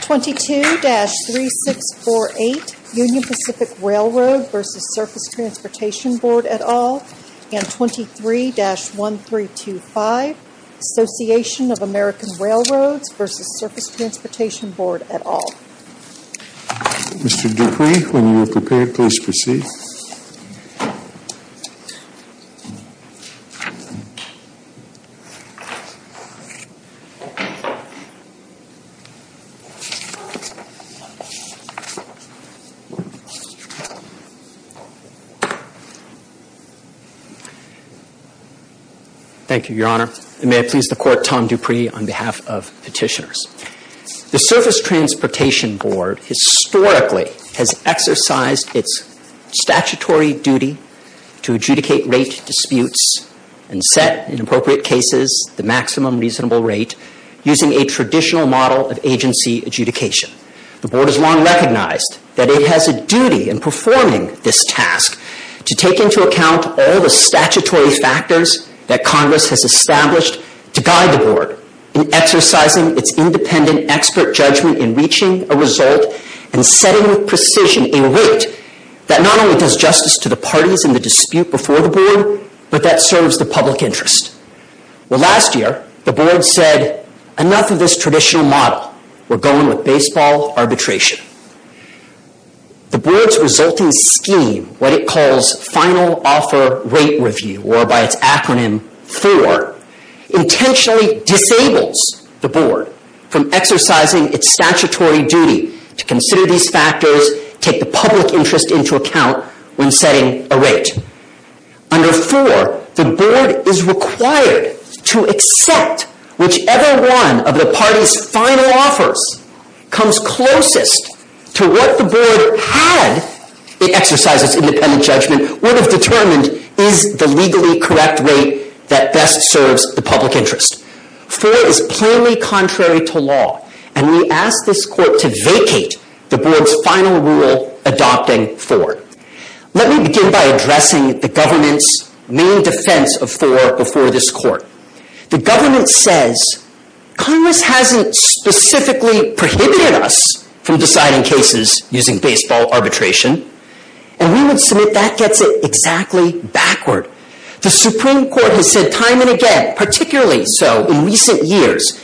22-3648 Union Pacific Railroad v. Surface Transportation Board et al. and 23-1325 Association of American Railroads v. Surface Transportation Board et al. Mr. Dupree, when you are prepared, please proceed. Thank you, Your Honor, and may I please the Court, Tom Dupree, on behalf of petitioners. The Surface Transportation Board historically has exercised its statutory duty to adjudicate rate disputes and set, in appropriate cases, the maximum reasonable rate using a traditional model of agency adjudication. The Board has long recognized that it has a duty in performing this task to take into account all the statutory factors that Congress has established to guide the Board in exercising its independent expert judgment in reaching a result and setting with precision a rate that not only does justice to the parties in the dispute before the Board, but that serves the public interest. Last year, the Board said, enough of this traditional model. We're going with baseball arbitration. The Board's resulting scheme, what it calls Final Offer Rate Review, or by its acronym, F.O.R., intentionally disables the Board from exercising its statutory duty to consider these factors, take the public interest into account when setting a rate. Under F.O.R., the Board is required to accept whichever one of the parties' final offers comes closest to what the Board, had it exercised its independent judgment, would have determined is the legally correct rate that best serves the public interest. F.O.R. is plainly contrary to law, and we ask this Court to vacate the Board's final rule adopting F.O.R. Let me begin by addressing the government's main defense of F.O.R. before this Court. The government says, Congress hasn't specifically prohibited us from deciding cases using baseball arbitration, and we would submit that gets it exactly backward. The Supreme Court has said time and again, particularly so in recent years,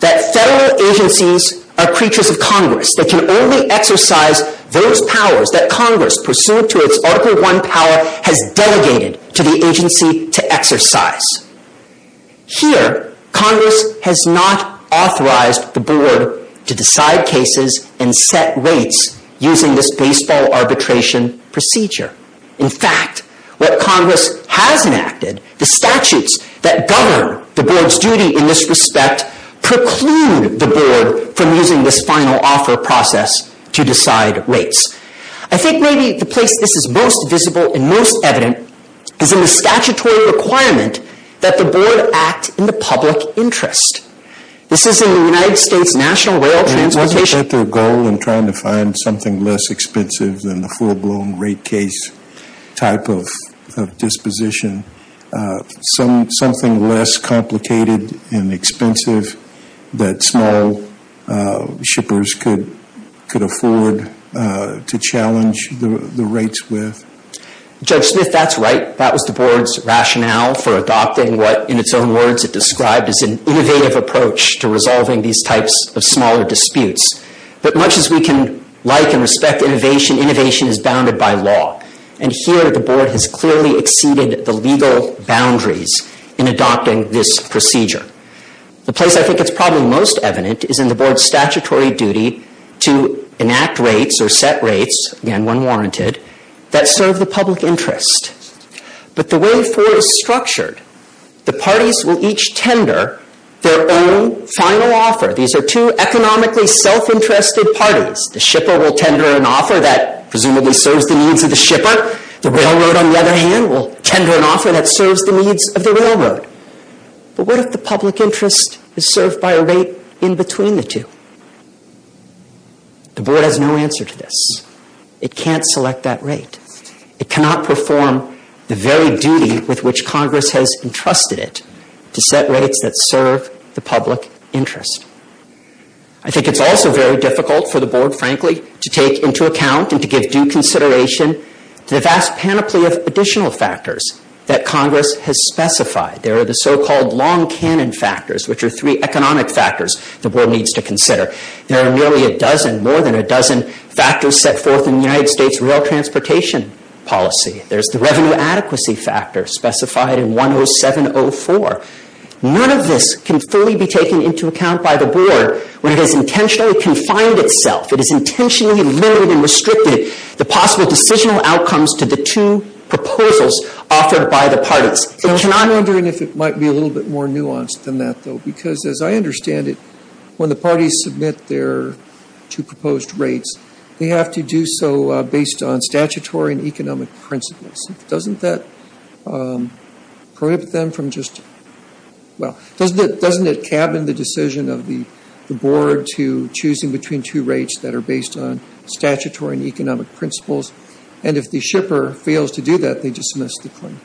that federal agencies are creatures of Congress that can only exercise those powers that Congress, pursuant to its Article I power, has delegated to the agency to exercise. Here, Congress has not authorized the Board to decide cases and set rates using this baseball arbitration procedure. In fact, what Congress has enacted, the statutes that govern the Board's duty in this respect, preclude the Board from using this final offer process to decide rates. I think maybe the place this is most visible and most evident is in the statutory requirement that the Board act in the public interest. This is in the United States National Rail Transportation... type of disposition. Something less complicated and expensive that small shippers could afford to challenge the rates with. Judge Smith, that's right. That was the Board's rationale for adopting what, in its own words, it described as an innovative approach to resolving these types of smaller disputes. But much as we can like and respect innovation, innovation is bounded by law. And here, the Board has clearly exceeded the legal boundaries in adopting this procedure. The place I think it's probably most evident is in the Board's statutory duty to enact rates or set rates, again, when warranted, that serve the public interest. But the way forward is structured. The parties will each tender their own final offer. These are two economically self-interested parties. The shipper will tender an offer that presumably serves the needs of the shipper. The railroad, on the other hand, will tender an offer that serves the needs of the railroad. But what if the public interest is served by a rate in between the two? The Board has no answer to this. It can't select that rate. It cannot perform the very duty with which Congress has entrusted it to set rates that serve the public interest. I think it's also very difficult for the Board, frankly, to take into account and to give due consideration to the vast panoply of additional factors that Congress has specified. There are the so-called long-canon factors, which are three economic factors the Board needs to consider. There are nearly a dozen, more than a dozen, factors set forth in the United States rail transportation policy. There's the revenue adequacy factor specified in 10704. None of this can fully be taken into account by the Board when it has intentionally confined itself, it has intentionally limited and restricted the possible decisional outcomes to the two proposals offered by the parties. I'm wondering if it might be a little bit more nuanced than that, though, because as I understand it, when the parties submit their two proposed rates, they have to do so based on statutory and economic principles. Doesn't that prohibit them from just, well, doesn't it cabin the decision of the Board to choosing between two rates that are based on statutory and economic principles? And if the shipper fails to do that, they dismiss the claim.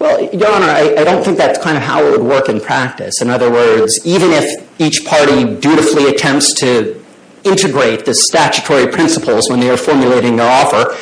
Well, Your Honor, I don't think that's kind of how it would work in practice. In other words, even if each party dutifully attempts to integrate the statutory principles when they are formulating their offer,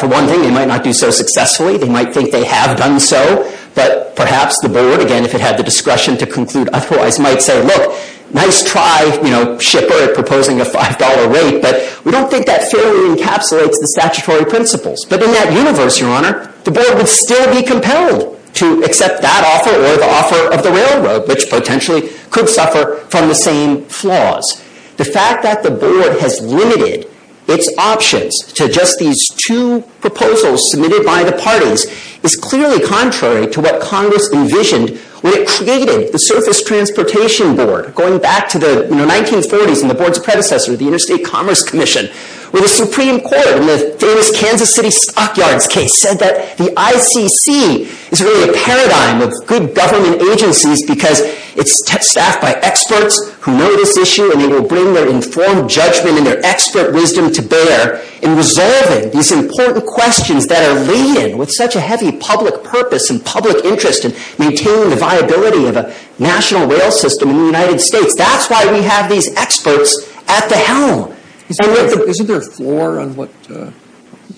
for one thing, they might not do so successfully. They might think they have done so, but perhaps the Board, again, if it had the discretion to conclude otherwise, might say, look, nice try, you know, shipper proposing a $5 rate, but we don't think that fairly encapsulates the statutory principles. But in that universe, Your Honor, the Board would still be compelled to accept that offer or the offer of the railroad, which potentially could suffer from the same flaws. The fact that the Board has limited its options to just these two proposals submitted by the parties is clearly contrary to what Congress envisioned when it created the Surface Transportation Board, going back to the 1940s and the Board's predecessor, the Interstate Commerce Commission, where the Supreme Court in the famous Kansas City Stockyards case said that the ICC is really a paradigm of good government agencies because it's staffed by experts who know this issue and they will bring their informed judgment and their expert wisdom to bear in resolving these important questions that are leading with such a heavy public purpose and public interest in maintaining the viability of a national rail system in the United States. That's why we have these experts at the helm. Isn't there a floor on what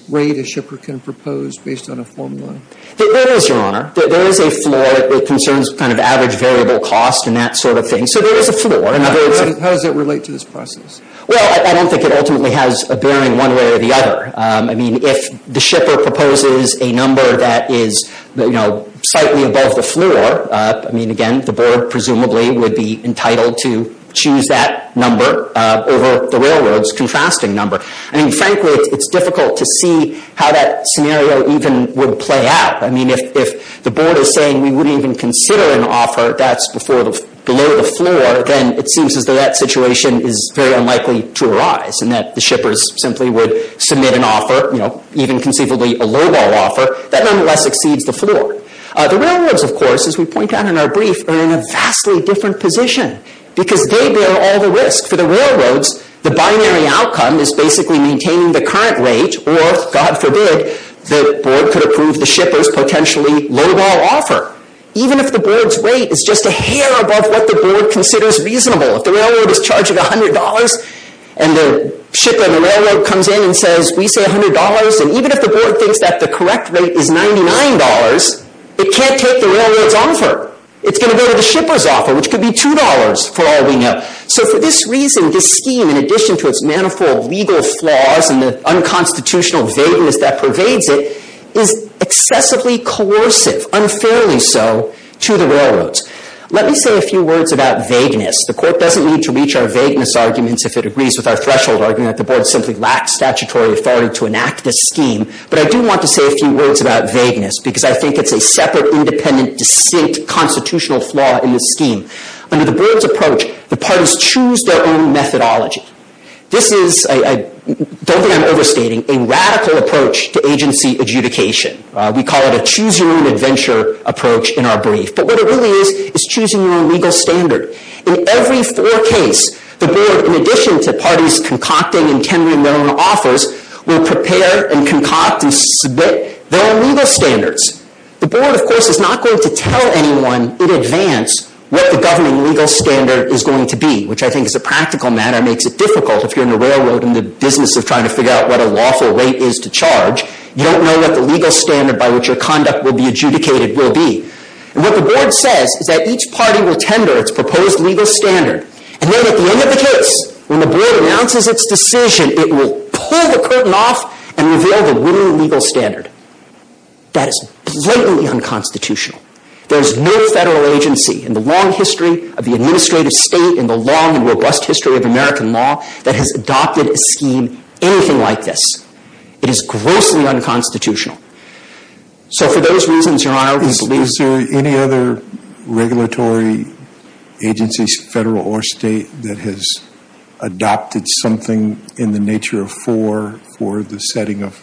rate a shipper can propose based on a formula? There is, Your Honor. There is a floor. It concerns kind of average variable cost and that sort of thing. So there is a floor. How does it relate to this process? Well, I don't think it ultimately has a bearing one way or the other. I mean, if the shipper proposes a number that is, you know, slightly above the floor, I mean, again, the Board presumably would be entitled to choose that number over the railroad's contrasting number. I mean, frankly, it's difficult to see how that scenario even would play out. I mean, if the Board is saying we wouldn't even consider an offer that's below the floor, then it seems as though that situation is very unlikely to arise and that the shippers simply would submit an offer, you know, even conceivably a lowball offer that nonetheless exceeds the floor. The railroads, of course, as we point out in our brief, are in a vastly different position because they bear all the risk. For the railroads, the binary outcome is basically maintaining the current rate or, God forbid, the Board could approve the shipper's potentially lowball offer, even if the Board's rate is just a hair above what the Board considers reasonable. If the railroad is charging $100 and the shipper and the railroad comes in and says, we say $100, and even if the Board thinks that the correct rate is $99, it can't take the railroad's offer. It's going to go to the shipper's offer, which could be $2 for all we know. So for this reason, this scheme, in addition to its manifold legal flaws and the unconstitutional vagueness that pervades it, is excessively coercive, unfairly so, to the railroads. Let me say a few words about vagueness. The Court doesn't need to reach our vagueness arguments if it agrees with our threshold argument that the Board simply lacks statutory authority to enact this scheme, but I do want to say a few words about vagueness because I think it's a separate, independent, distinct constitutional flaw in this scheme. Under the Board's approach, the parties choose their own methodology. Don't think I'm overstating. This is a radical approach to agency adjudication. We call it a choose-your-own-adventure approach in our brief. But what it really is is choosing your own legal standard. In every four cases, the Board, in addition to parties concocting and tendering their own offers, will prepare and concoct and submit their own legal standards. The Board, of course, is not going to tell anyone in advance what the governing legal standard is going to be, which I think as a practical matter makes it difficult if you're in the railroad in the business of trying to figure out what a lawful rate is to charge. You don't know what the legal standard by which your conduct will be adjudicated will be. And what the Board says is that each party will tender its proposed legal standard, and then at the end of the case, when the Board announces its decision, it will pull the curtain off and reveal the winning legal standard. That is blatantly unconstitutional. There is no Federal agency in the long history of the administrative state, in the long and robust history of American law, that has adopted a scheme anything like this. It is grossly unconstitutional. So for those reasons, Your Honor, we believe that... Is there any other regulatory agency, Federal or State, that has adopted something in the nature of four for the setting of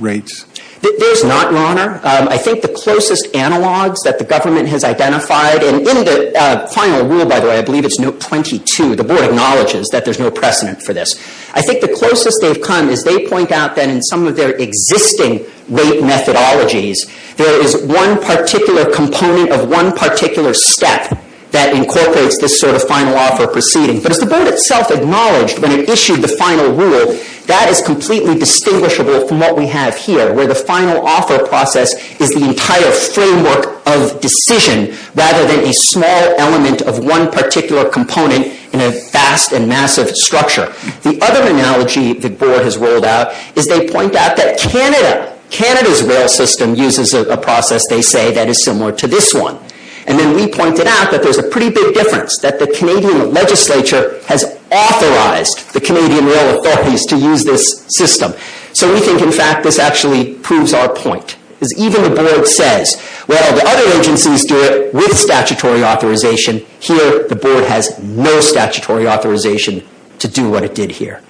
rates? There's not, Your Honor. I think the closest analogs that the government has identified, and in the final rule, by the way, I believe it's note 22, the Board acknowledges that there's no precedent for this. I think the closest they've come is they point out that in some of their existing rate methodologies, there is one particular component of one particular step that incorporates this sort of final offer proceeding. But as the Board itself acknowledged when it issued the final rule, that is completely distinguishable from what we have here, where the final offer process is the entire framework of decision, rather than a small element of one particular component in a vast and massive structure. The other analogy the Board has rolled out is they point out that Canada, Canada's rail system uses a process, they say, that is similar to this one. And then we pointed out that there's a pretty big difference, that the Canadian legislature has authorized the Canadian rail authorities to use this system. So we think, in fact, this actually proves our point. Because even the Board says, well, the other agencies do it with statutory authorization. Here, the Board has no statutory authorization to do what it did here.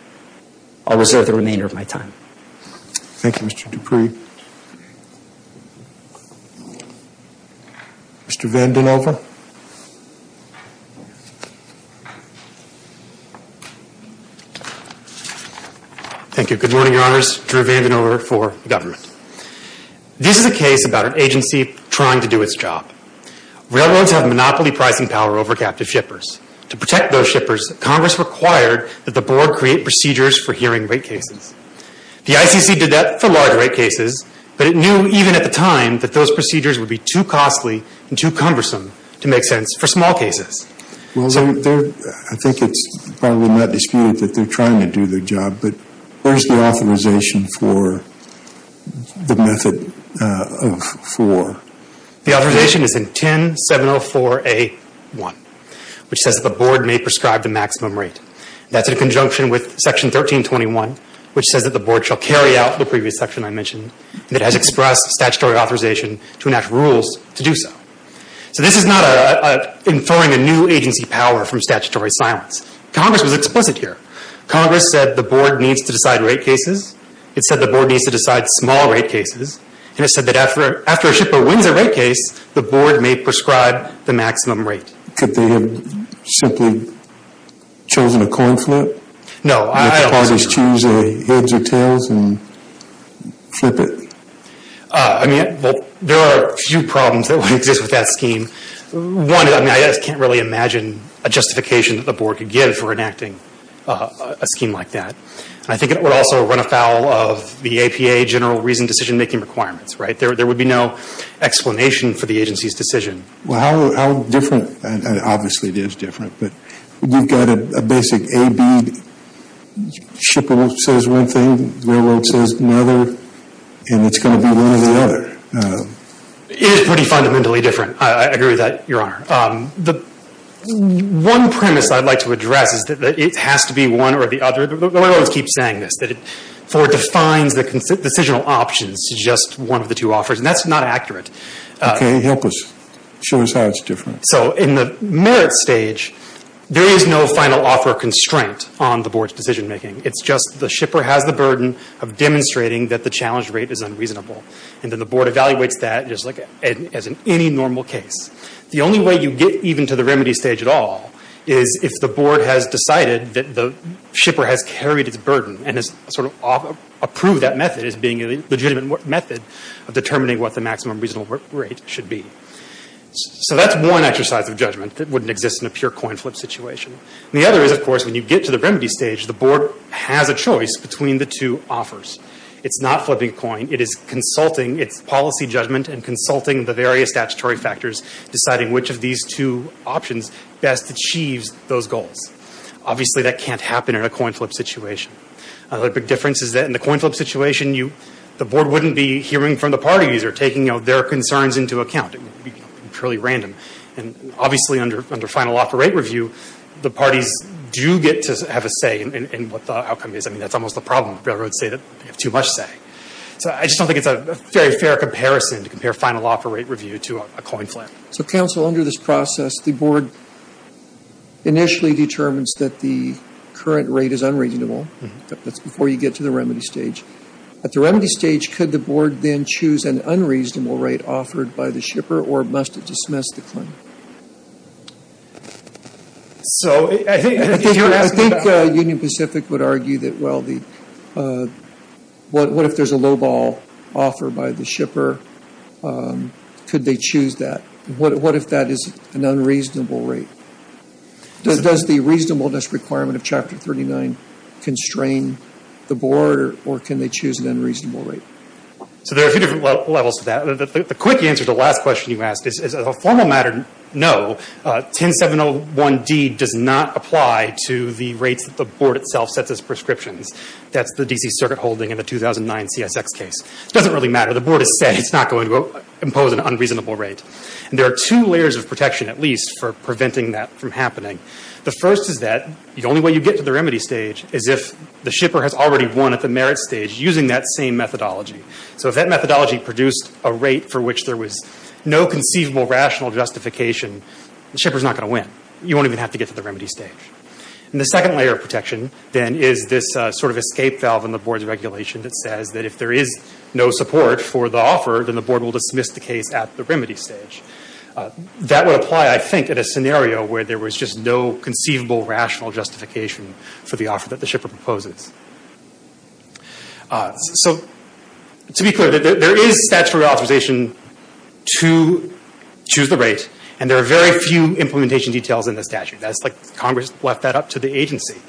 I'll reserve the remainder of my time. Thank you, Mr. Dupree. Mr. Vanden Heuvel. Thank you. Good morning, Your Honours. Drew Vanden Heuvel for the government. This is a case about an agency trying to do its job. Railroads have monopoly pricing power over captive shippers. To protect those shippers, Congress required that the Board create procedures for hearing rate cases. The ICC did that for large rate cases, but it knew, even at the time, that those procedures would be too costly and too cumbersome to make sense for small cases. I think it's probably not disputed that they're trying to do their job, but where's the authorization for the method of four? The authorization is in 10704A1, which says that the Board may prescribe the maximum rate. That's in conjunction with Section 1321, which says that the Board shall carry out the previous section I mentioned, and it has expressed statutory authorization to enact rules to do so. So this is not inferring a new agency power from statutory silence. Congress was explicit here. Congress said the Board needs to decide rate cases. It said the Board needs to decide small rate cases. It said that after a shipper wins a rate case, the Board may prescribe the maximum rate. Could they have simply chosen a coin flip? No, I don't think so. They could probably choose heads or tails and flip it. There are a few problems that would exist with that scheme. One, I can't really imagine a justification that the Board could give for enacting a scheme like that. I think it would also run afoul of the APA general reason decision-making requirements, right? There would be no explanation for the agency's decision. Well, how different, and obviously it is different, but you've got a basic A, B, shipper says one thing, railroad says another, and it's going to be one or the other. It is pretty fundamentally different. I agree with that, Your Honor. One premise I'd like to address is that it has to be one or the other. The railroad keeps saying this, that it defines the decisional options to just one of the two offers, and that's not accurate. Okay. Help us. Show us how it's different. So in the merit stage, there is no final offer constraint on the Board's decision-making. It's just the shipper has the burden of demonstrating that the challenge rate is unreasonable, and then the Board evaluates that as in any normal case. The only way you get even to the remedy stage at all is if the Board has decided that the shipper has carried its burden and has sort of approved that method as being a legitimate method of determining what the maximum reasonable rate should be. So that's one exercise of judgment that wouldn't exist in a pure coin flip situation. The other is, of course, when you get to the remedy stage, the Board has a choice between the two offers. It's not flipping a coin. It is consulting its policy judgment and consulting the various statutory factors, deciding which of these two options best achieves those goals. Obviously, that can't happen in a coin flip situation. Another big difference is that in the coin flip situation, the Board wouldn't be hearing from the parties or taking their concerns into account. It would be purely random. And obviously, under final offer rate review, the parties do get to have a say in what the outcome is. I mean, that's almost the problem. Railroads say that they have too much say. So I just don't think it's a very fair comparison to compare final offer rate review to a coin flip. So, Counsel, under this process, the Board initially determines that the current rate is unreasonable. That's before you get to the remedy stage. At the remedy stage, could the Board then choose an unreasonable rate offered by the shipper, or must it dismiss the claim? So I think if you're asking about... If there's a lowball offer by the shipper, could they choose that? What if that is an unreasonable rate? Does the reasonableness requirement of Chapter 39 constrain the Board, or can they choose an unreasonable rate? So there are a few different levels to that. The quick answer to the last question you asked is, as a formal matter, no. 10701D does not apply to the rates that the Board itself sets as prescriptions. That's the DC Circuit holding in the 2009 CSX case. It doesn't really matter. The Board has said it's not going to impose an unreasonable rate. And there are two layers of protection, at least, for preventing that from happening. The first is that the only way you get to the remedy stage is if the shipper has already won at the merit stage using that same methodology. So if that methodology produced a rate for which there was no conceivable rational justification, the shipper's not going to win. You won't even have to get to the remedy stage. And the second layer of protection, then, is this sort of escape valve in the Board's regulation that says that if there is no support for the offer, then the Board will dismiss the case at the remedy stage. That would apply, I think, at a scenario where there was just no conceivable rational justification for the offer that the shipper proposes. So to be clear, there is statutory authorization to choose the rate, and there are very few implementation details in the statute. It's like Congress left that up to the agency.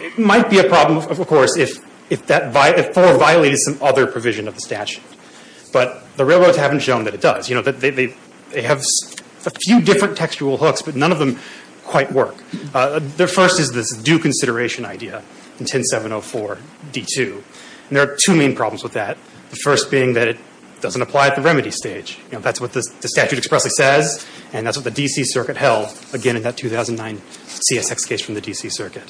It might be a problem, of course, if that 4 violates some other provision of the statute. But the railroads haven't shown that it does. You know, they have a few different textual hooks, but none of them quite work. The first is this due consideration idea in 10-704-D2. And there are two main problems with that, the first being that it doesn't apply at the remedy stage. You know, that's what the statute expressly says, and that's what the D.C. Circuit held, again, in that 2009 CSX case from the D.C. Circuit.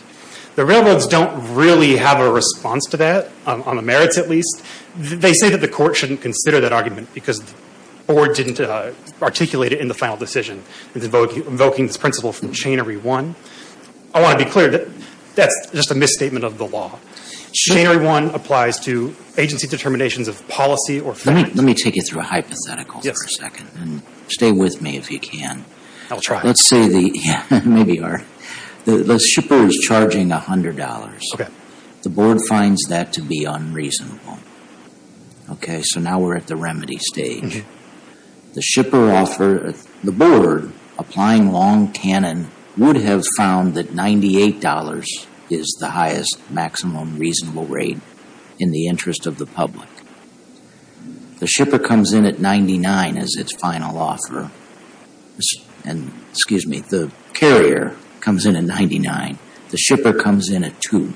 The railroads don't really have a response to that, on the merits at least. They say that the Court shouldn't consider that argument because the Board didn't articulate it in the final decision, invoking this principle from Chainery 1. I want to be clear that that's just a misstatement of the law. Chainery 1 applies to agency determinations of policy or federal— Let me take you through a hypothetical for a second, and stay with me if you can. I'll try. Let's say the—maybe you are. The shipper is charging $100. The Board finds that to be unreasonable. Okay, so now we're at the remedy stage. The shipper offers—the Board, applying long canon, would have found that $98 is the highest maximum reasonable rate in the interest of the public. The shipper comes in at $99 as its final offer. And, excuse me, the carrier comes in at $99. The shipper comes in at $2.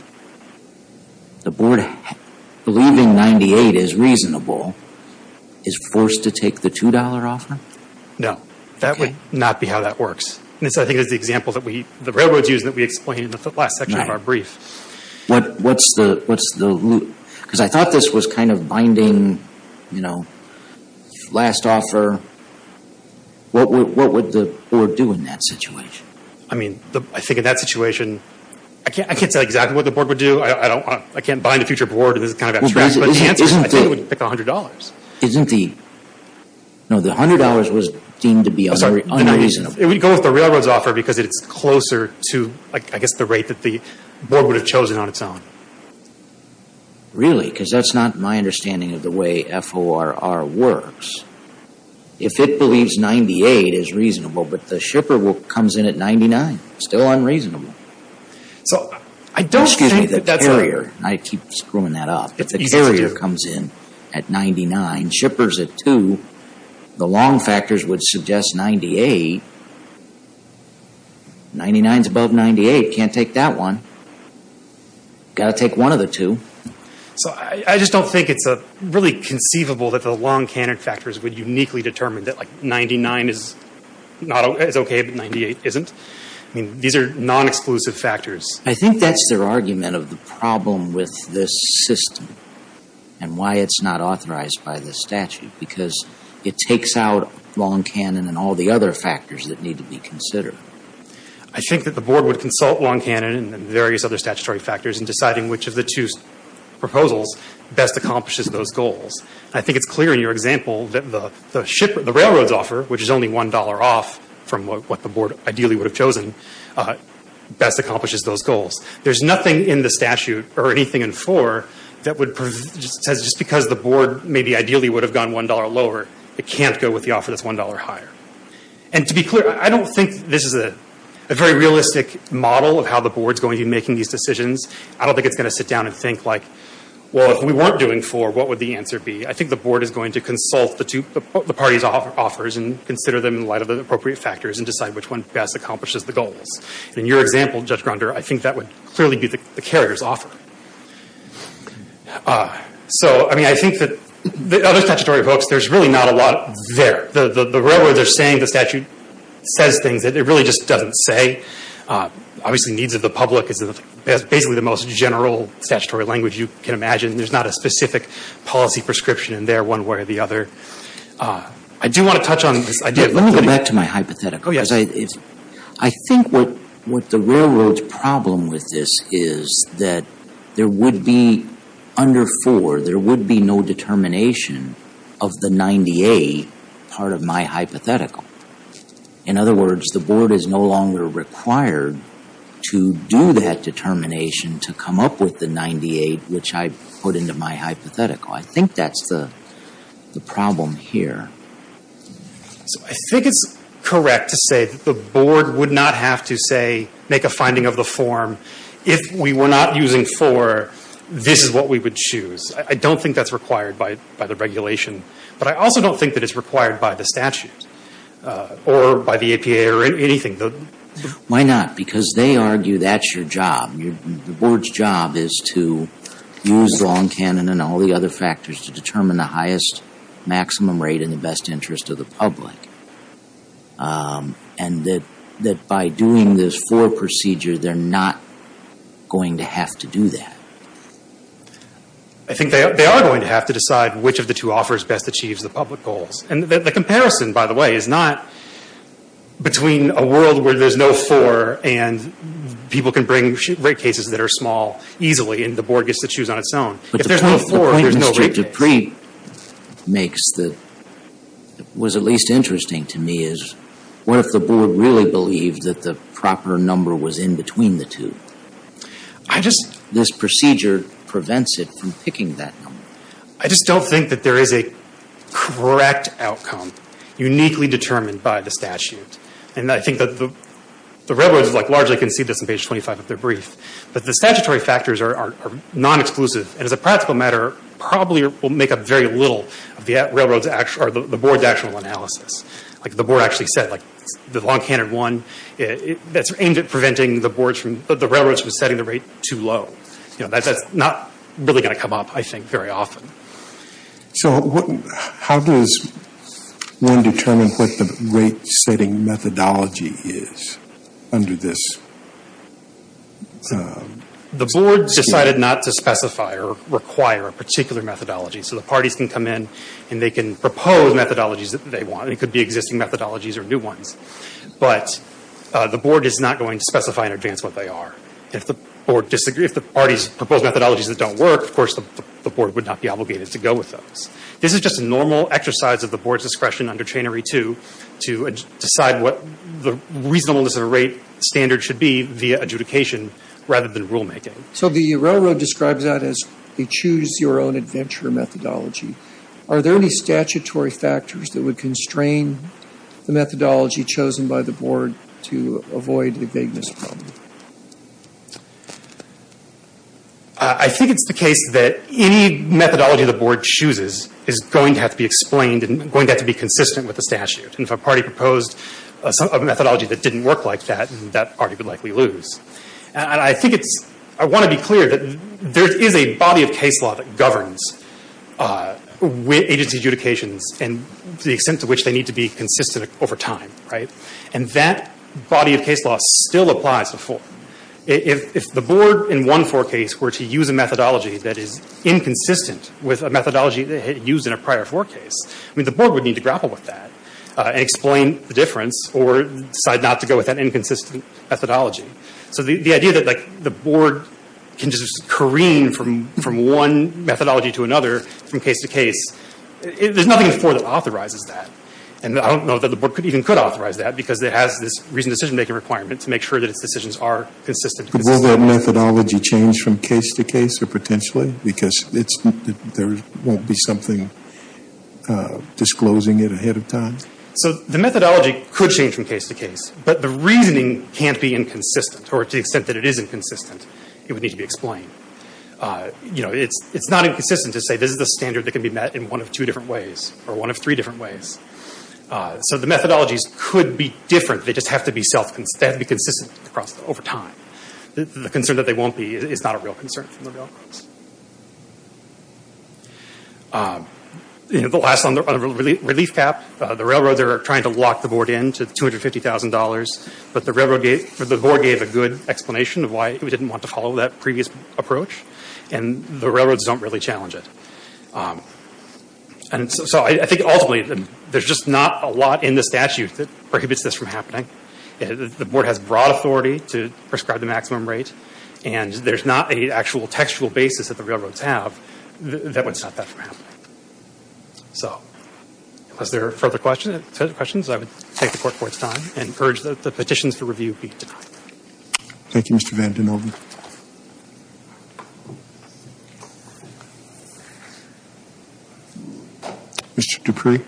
The Board, believing $98 is reasonable, is forced to take the $2 offer? No. That would not be how that works. I think that's the example that we—the railroads use that we explained in the last section of our brief. What's the— Because I thought this was kind of binding, you know, last offer. What would the Board do in that situation? I mean, I think in that situation, I can't say exactly what the Board would do. I don't want—I can't bind a future Board. This is kind of abstract. But chances are, I think it would pick $100. Isn't the—no, the $100 was deemed to be unreasonable. It would go with the railroad's offer because it's closer to, I guess, the rate that the Board would have chosen on its own. Really? Because that's not my understanding of the way FORR works. If it believes $98 is reasonable, but the shipper comes in at $99, still unreasonable. So I don't think that that's— Excuse me, the carrier—and I keep screwing that up. If the carrier comes in at $99, shipper's at $2, the long factors would suggest $98. $99 is above $98. Can't take that one. Got to take one of the two. So I just don't think it's really conceivable that the long canon factors would uniquely determine that, like, $99 is okay, but $98 isn't. I mean, these are non-exclusive factors. I think that's their argument of the problem with this system and why it's not authorized by this statute, because it takes out long canon and all the other factors that need to be considered. I think that the Board would consult long canon and various other statutory factors in deciding which of the two proposals best accomplishes those goals. I think it's clear in your example that the railroad's offer, which is only $1 off from what the Board ideally would have chosen, best accomplishes those goals. There's nothing in the statute or anything in FORR that would— says just because the Board maybe ideally would have gone $1 lower, it can't go with the offer that's $1 higher. And to be clear, I don't think this is a very realistic model of how the Board's going to be making these decisions. I don't think it's going to sit down and think, like, well, if we weren't doing FORR, what would the answer be? I think the Board is going to consult the parties' offers and consider them in light of the appropriate factors and decide which one best accomplishes the goals. In your example, Judge Gronder, I think that would clearly be the carrier's offer. So, I mean, I think that the other statutory books, there's really not a lot there. The railroad, they're saying the statute says things that it really just doesn't say. Obviously, needs of the public is basically the most general statutory language you can imagine. There's not a specific policy prescription in there one way or the other. I do want to touch on this idea— I think what the railroad's problem with this is that there would be under FORR, there would be no determination of the 98 part of my hypothetical. In other words, the Board is no longer required to do that determination to come up with the 98, which I put into my hypothetical. I think that's the problem here. So I think it's correct to say that the Board would not have to, say, make a finding of the form. If we were not using FORR, this is what we would choose. I don't think that's required by the regulation. But I also don't think that it's required by the statute or by the APA or anything. Why not? Because they argue that's your job. The Board's job is to use long canon and all the other factors to determine the highest maximum rate in the best interest of the public. And that by doing this FORR procedure, they're not going to have to do that. I think they are going to have to decide which of the two offers best achieves the public goals. And the comparison, by the way, is not between a world where there's no FORR and people can bring rate cases that are small easily and the Board gets to choose on its own. If there's no FORR, there's no rate case. But the point Mr. Dupree makes that was at least interesting to me is, what if the Board really believed that the proper number was in between the two? I just — This procedure prevents it from picking that number. I just don't think that there is a correct outcome uniquely determined by the statute. And I think that the railroads largely concede this in page 25 of their brief. But the statutory factors are non-exclusive and as a practical matter, probably will make up very little of the Board's actual analysis. Like the Board actually said, the long canon one, that's aimed at preventing the railroads from setting the rate too low. That's not really going to come up, I think, very often. So how does one determine what the rate-setting methodology is under this? The Board decided not to specify or require a particular methodology. So the parties can come in and they can propose methodologies that they want. It could be existing methodologies or new ones. But the Board is not going to specify in advance what they are. If the parties propose methodologies that don't work, of course the Board would not be obligated to go with those. This is just a normal exercise of the Board's discretion under Chainery 2 to decide what the reasonableness of a rate standard should be via adjudication rather than rulemaking. So the railroad describes that as a choose-your-own-adventure methodology. Are there any statutory factors that would constrain the methodology chosen by the Board to avoid the vagueness problem? I think it's the case that any methodology the Board chooses is going to have to be explained and going to have to be consistent with the statute. And if a party proposed a methodology that didn't work like that, that party would likely lose. And I think it's – I want to be clear that there is a body of case law that governs agency adjudications to the extent to which they need to be consistent over time. And that body of case law still applies to 4. If the Board in one 4 case were to use a methodology that is inconsistent with a methodology used in a prior 4 case, the Board would need to grapple with that and explain the difference or decide not to go with that inconsistent methodology. So the idea that the Board can just careen from one methodology to another, from case to case, there's nothing in 4 that authorizes that. And I don't know that the Board even could authorize that because it has this reasoned decision-making requirement to make sure that its decisions are consistent. But will that methodology change from case to case or potentially? Because it's – there won't be something disclosing it ahead of time? So the methodology could change from case to case, but the reasoning can't be inconsistent or to the extent that it is inconsistent, it would need to be explained. You know, it's not inconsistent to say this is a standard that can be met in one of two different ways or one of three different ways. So the methodologies could be different. They just have to be self – they have to be consistent over time. The concern that they won't be is not a real concern from the railroads. You know, the last one, the relief cap, the railroads are trying to lock the Board in to $250,000, but the railroad gave – the Board gave a good explanation of why it didn't want to follow that previous approach, and the railroads don't really challenge it. And so I think ultimately there's just not a lot in the statute that prohibits this from happening. The Board has broad authority to prescribe the maximum rate, and there's not an actual textual basis that the railroads have that would stop that from happening. So unless there are further questions, I would take the Court's time and urge that the petitions to review be denied. Thank you, Mr. Vanden Heuvel. Mr. Dupree.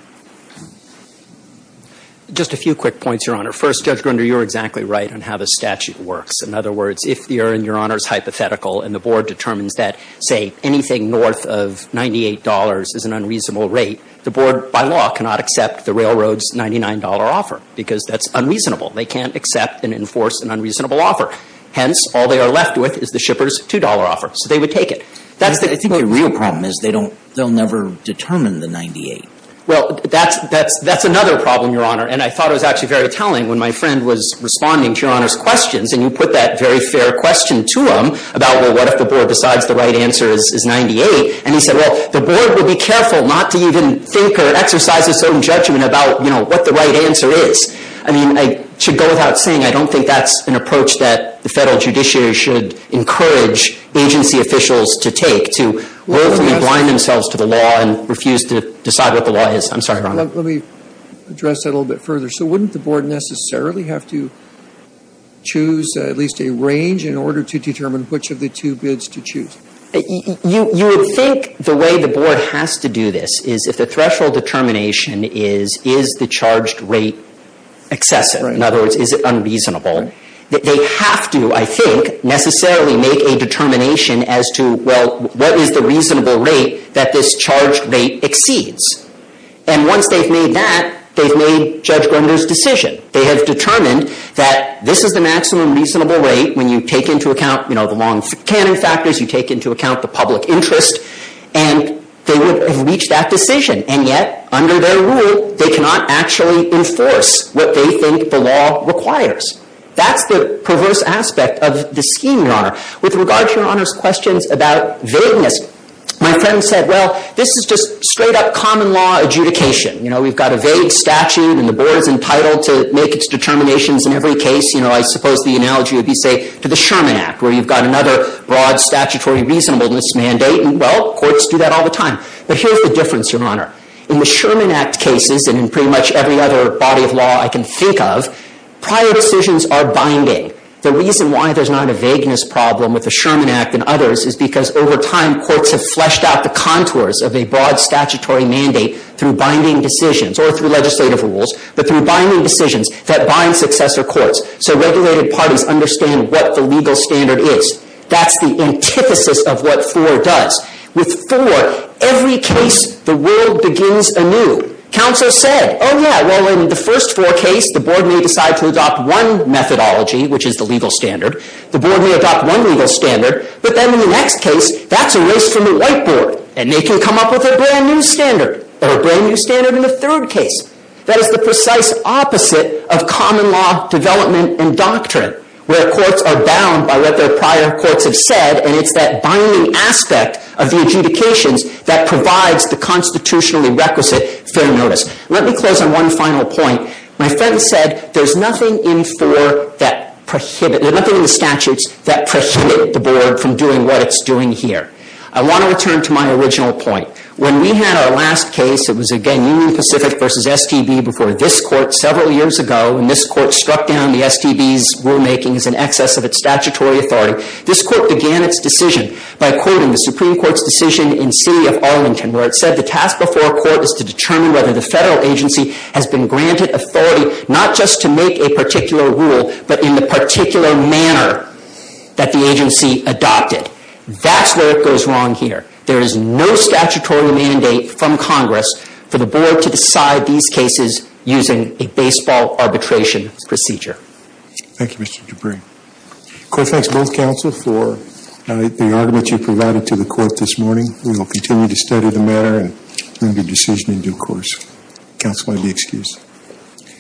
Just a few quick points, Your Honor. First, Judge Grunder, you're exactly right on how the statute works. In other words, if the error in Your Honor's hypothetical and the Board determines that, say, anything north of $98 is an unreasonable rate, the Board, by law, cannot accept the railroad's $99 offer because that's unreasonable. They can't accept and enforce an unreasonable offer. Hence, all they are left with is the shipper's $2 offer. So they would take it. I think the real problem is they'll never determine the $98. Well, that's another problem, Your Honor, and I thought it was actually very telling when my friend was responding to Your Honor's questions, and you put that very fair question to him about, well, what if the Board decides the right answer is $98? And he said, well, the Board would be careful not to even think or exercise its own judgment about what the right answer is. I mean, I should go without saying I don't think that's an approach that the Federal judiciary should encourage agency officials to take, to willfully blind themselves to the law and refuse to decide what the law is. I'm sorry, Your Honor. Let me address that a little bit further. So wouldn't the Board necessarily have to choose at least a range in order to determine which of the two bids to choose? You would think the way the Board has to do this is, if the threshold determination is, is the charged rate excessive? In other words, is it unreasonable? They have to, I think, necessarily make a determination as to, well, what is the reasonable rate that this charged rate exceeds? And once they've made that, they've made Judge Grinder's decision. They have determined that this is the maximum reasonable rate when you take into account the long-cannon factors, you take into account the public interest, and they would have reached that decision. And yet, under their rule, they cannot actually enforce what they think the law requires. That's the perverse aspect of the scheme, Your Honor. With regard to Your Honor's questions about vagueness, my friend said, well, this is just straight-up common law adjudication. You know, we've got a vague statute, and the Board is entitled to make its determinations in every case. You know, I suppose the analogy would be, say, to the Sherman Act, where you've got another broad statutory reasonableness mandate, and, well, courts do that all the time. But here's the difference, Your Honor. In the Sherman Act cases, and in pretty much every other body of law I can think of, prior decisions are binding. The reason why there's not a vagueness problem with the Sherman Act and others is because over time courts have fleshed out the contours of a broad statutory mandate through binding decisions, or through legislative rules, but through binding decisions that bind successor courts so regulated parties understand what the legal standard is. That's the antithesis of what 4 does. With 4, every case, the world begins anew. Counsel said, oh, yeah, well, in the first 4 case, the Board may decide to adopt one methodology, which is the legal standard. The Board may adopt one legal standard, but then in the next case, that's a race from the White Board, and they can come up with a brand-new standard, or a brand-new standard in the third case. That is the precise opposite of common law development and doctrine, where courts are bound by what their prior courts have said, and it's that binding aspect of the adjudications that provides the constitutionally requisite fair notice. Let me close on one final point. My friend said there's nothing in 4 that prohibits, there's nothing in the statutes that prohibits the Board from doing what it's doing here. I want to return to my original point. When we had our last case, it was, again, Union Pacific versus STB before this court several years ago, and this court struck down the STB's rulemaking as an excess of its statutory authority. This court began its decision by quoting the Supreme Court's decision in City of Arlington, where it said the task before a court is to determine whether the federal agency has been granted authority not just to make a particular rule, but in the particular manner that the agency adopted. That's where it goes wrong here. There is no statutory mandate from Congress for the Board to decide these cases using a baseball arbitration procedure. Thank you, Mr. Dupree. The court thanks both counsel for the argument you provided to the court this morning. We will continue to study the matter and make a decision in due course. Counsel may be excused.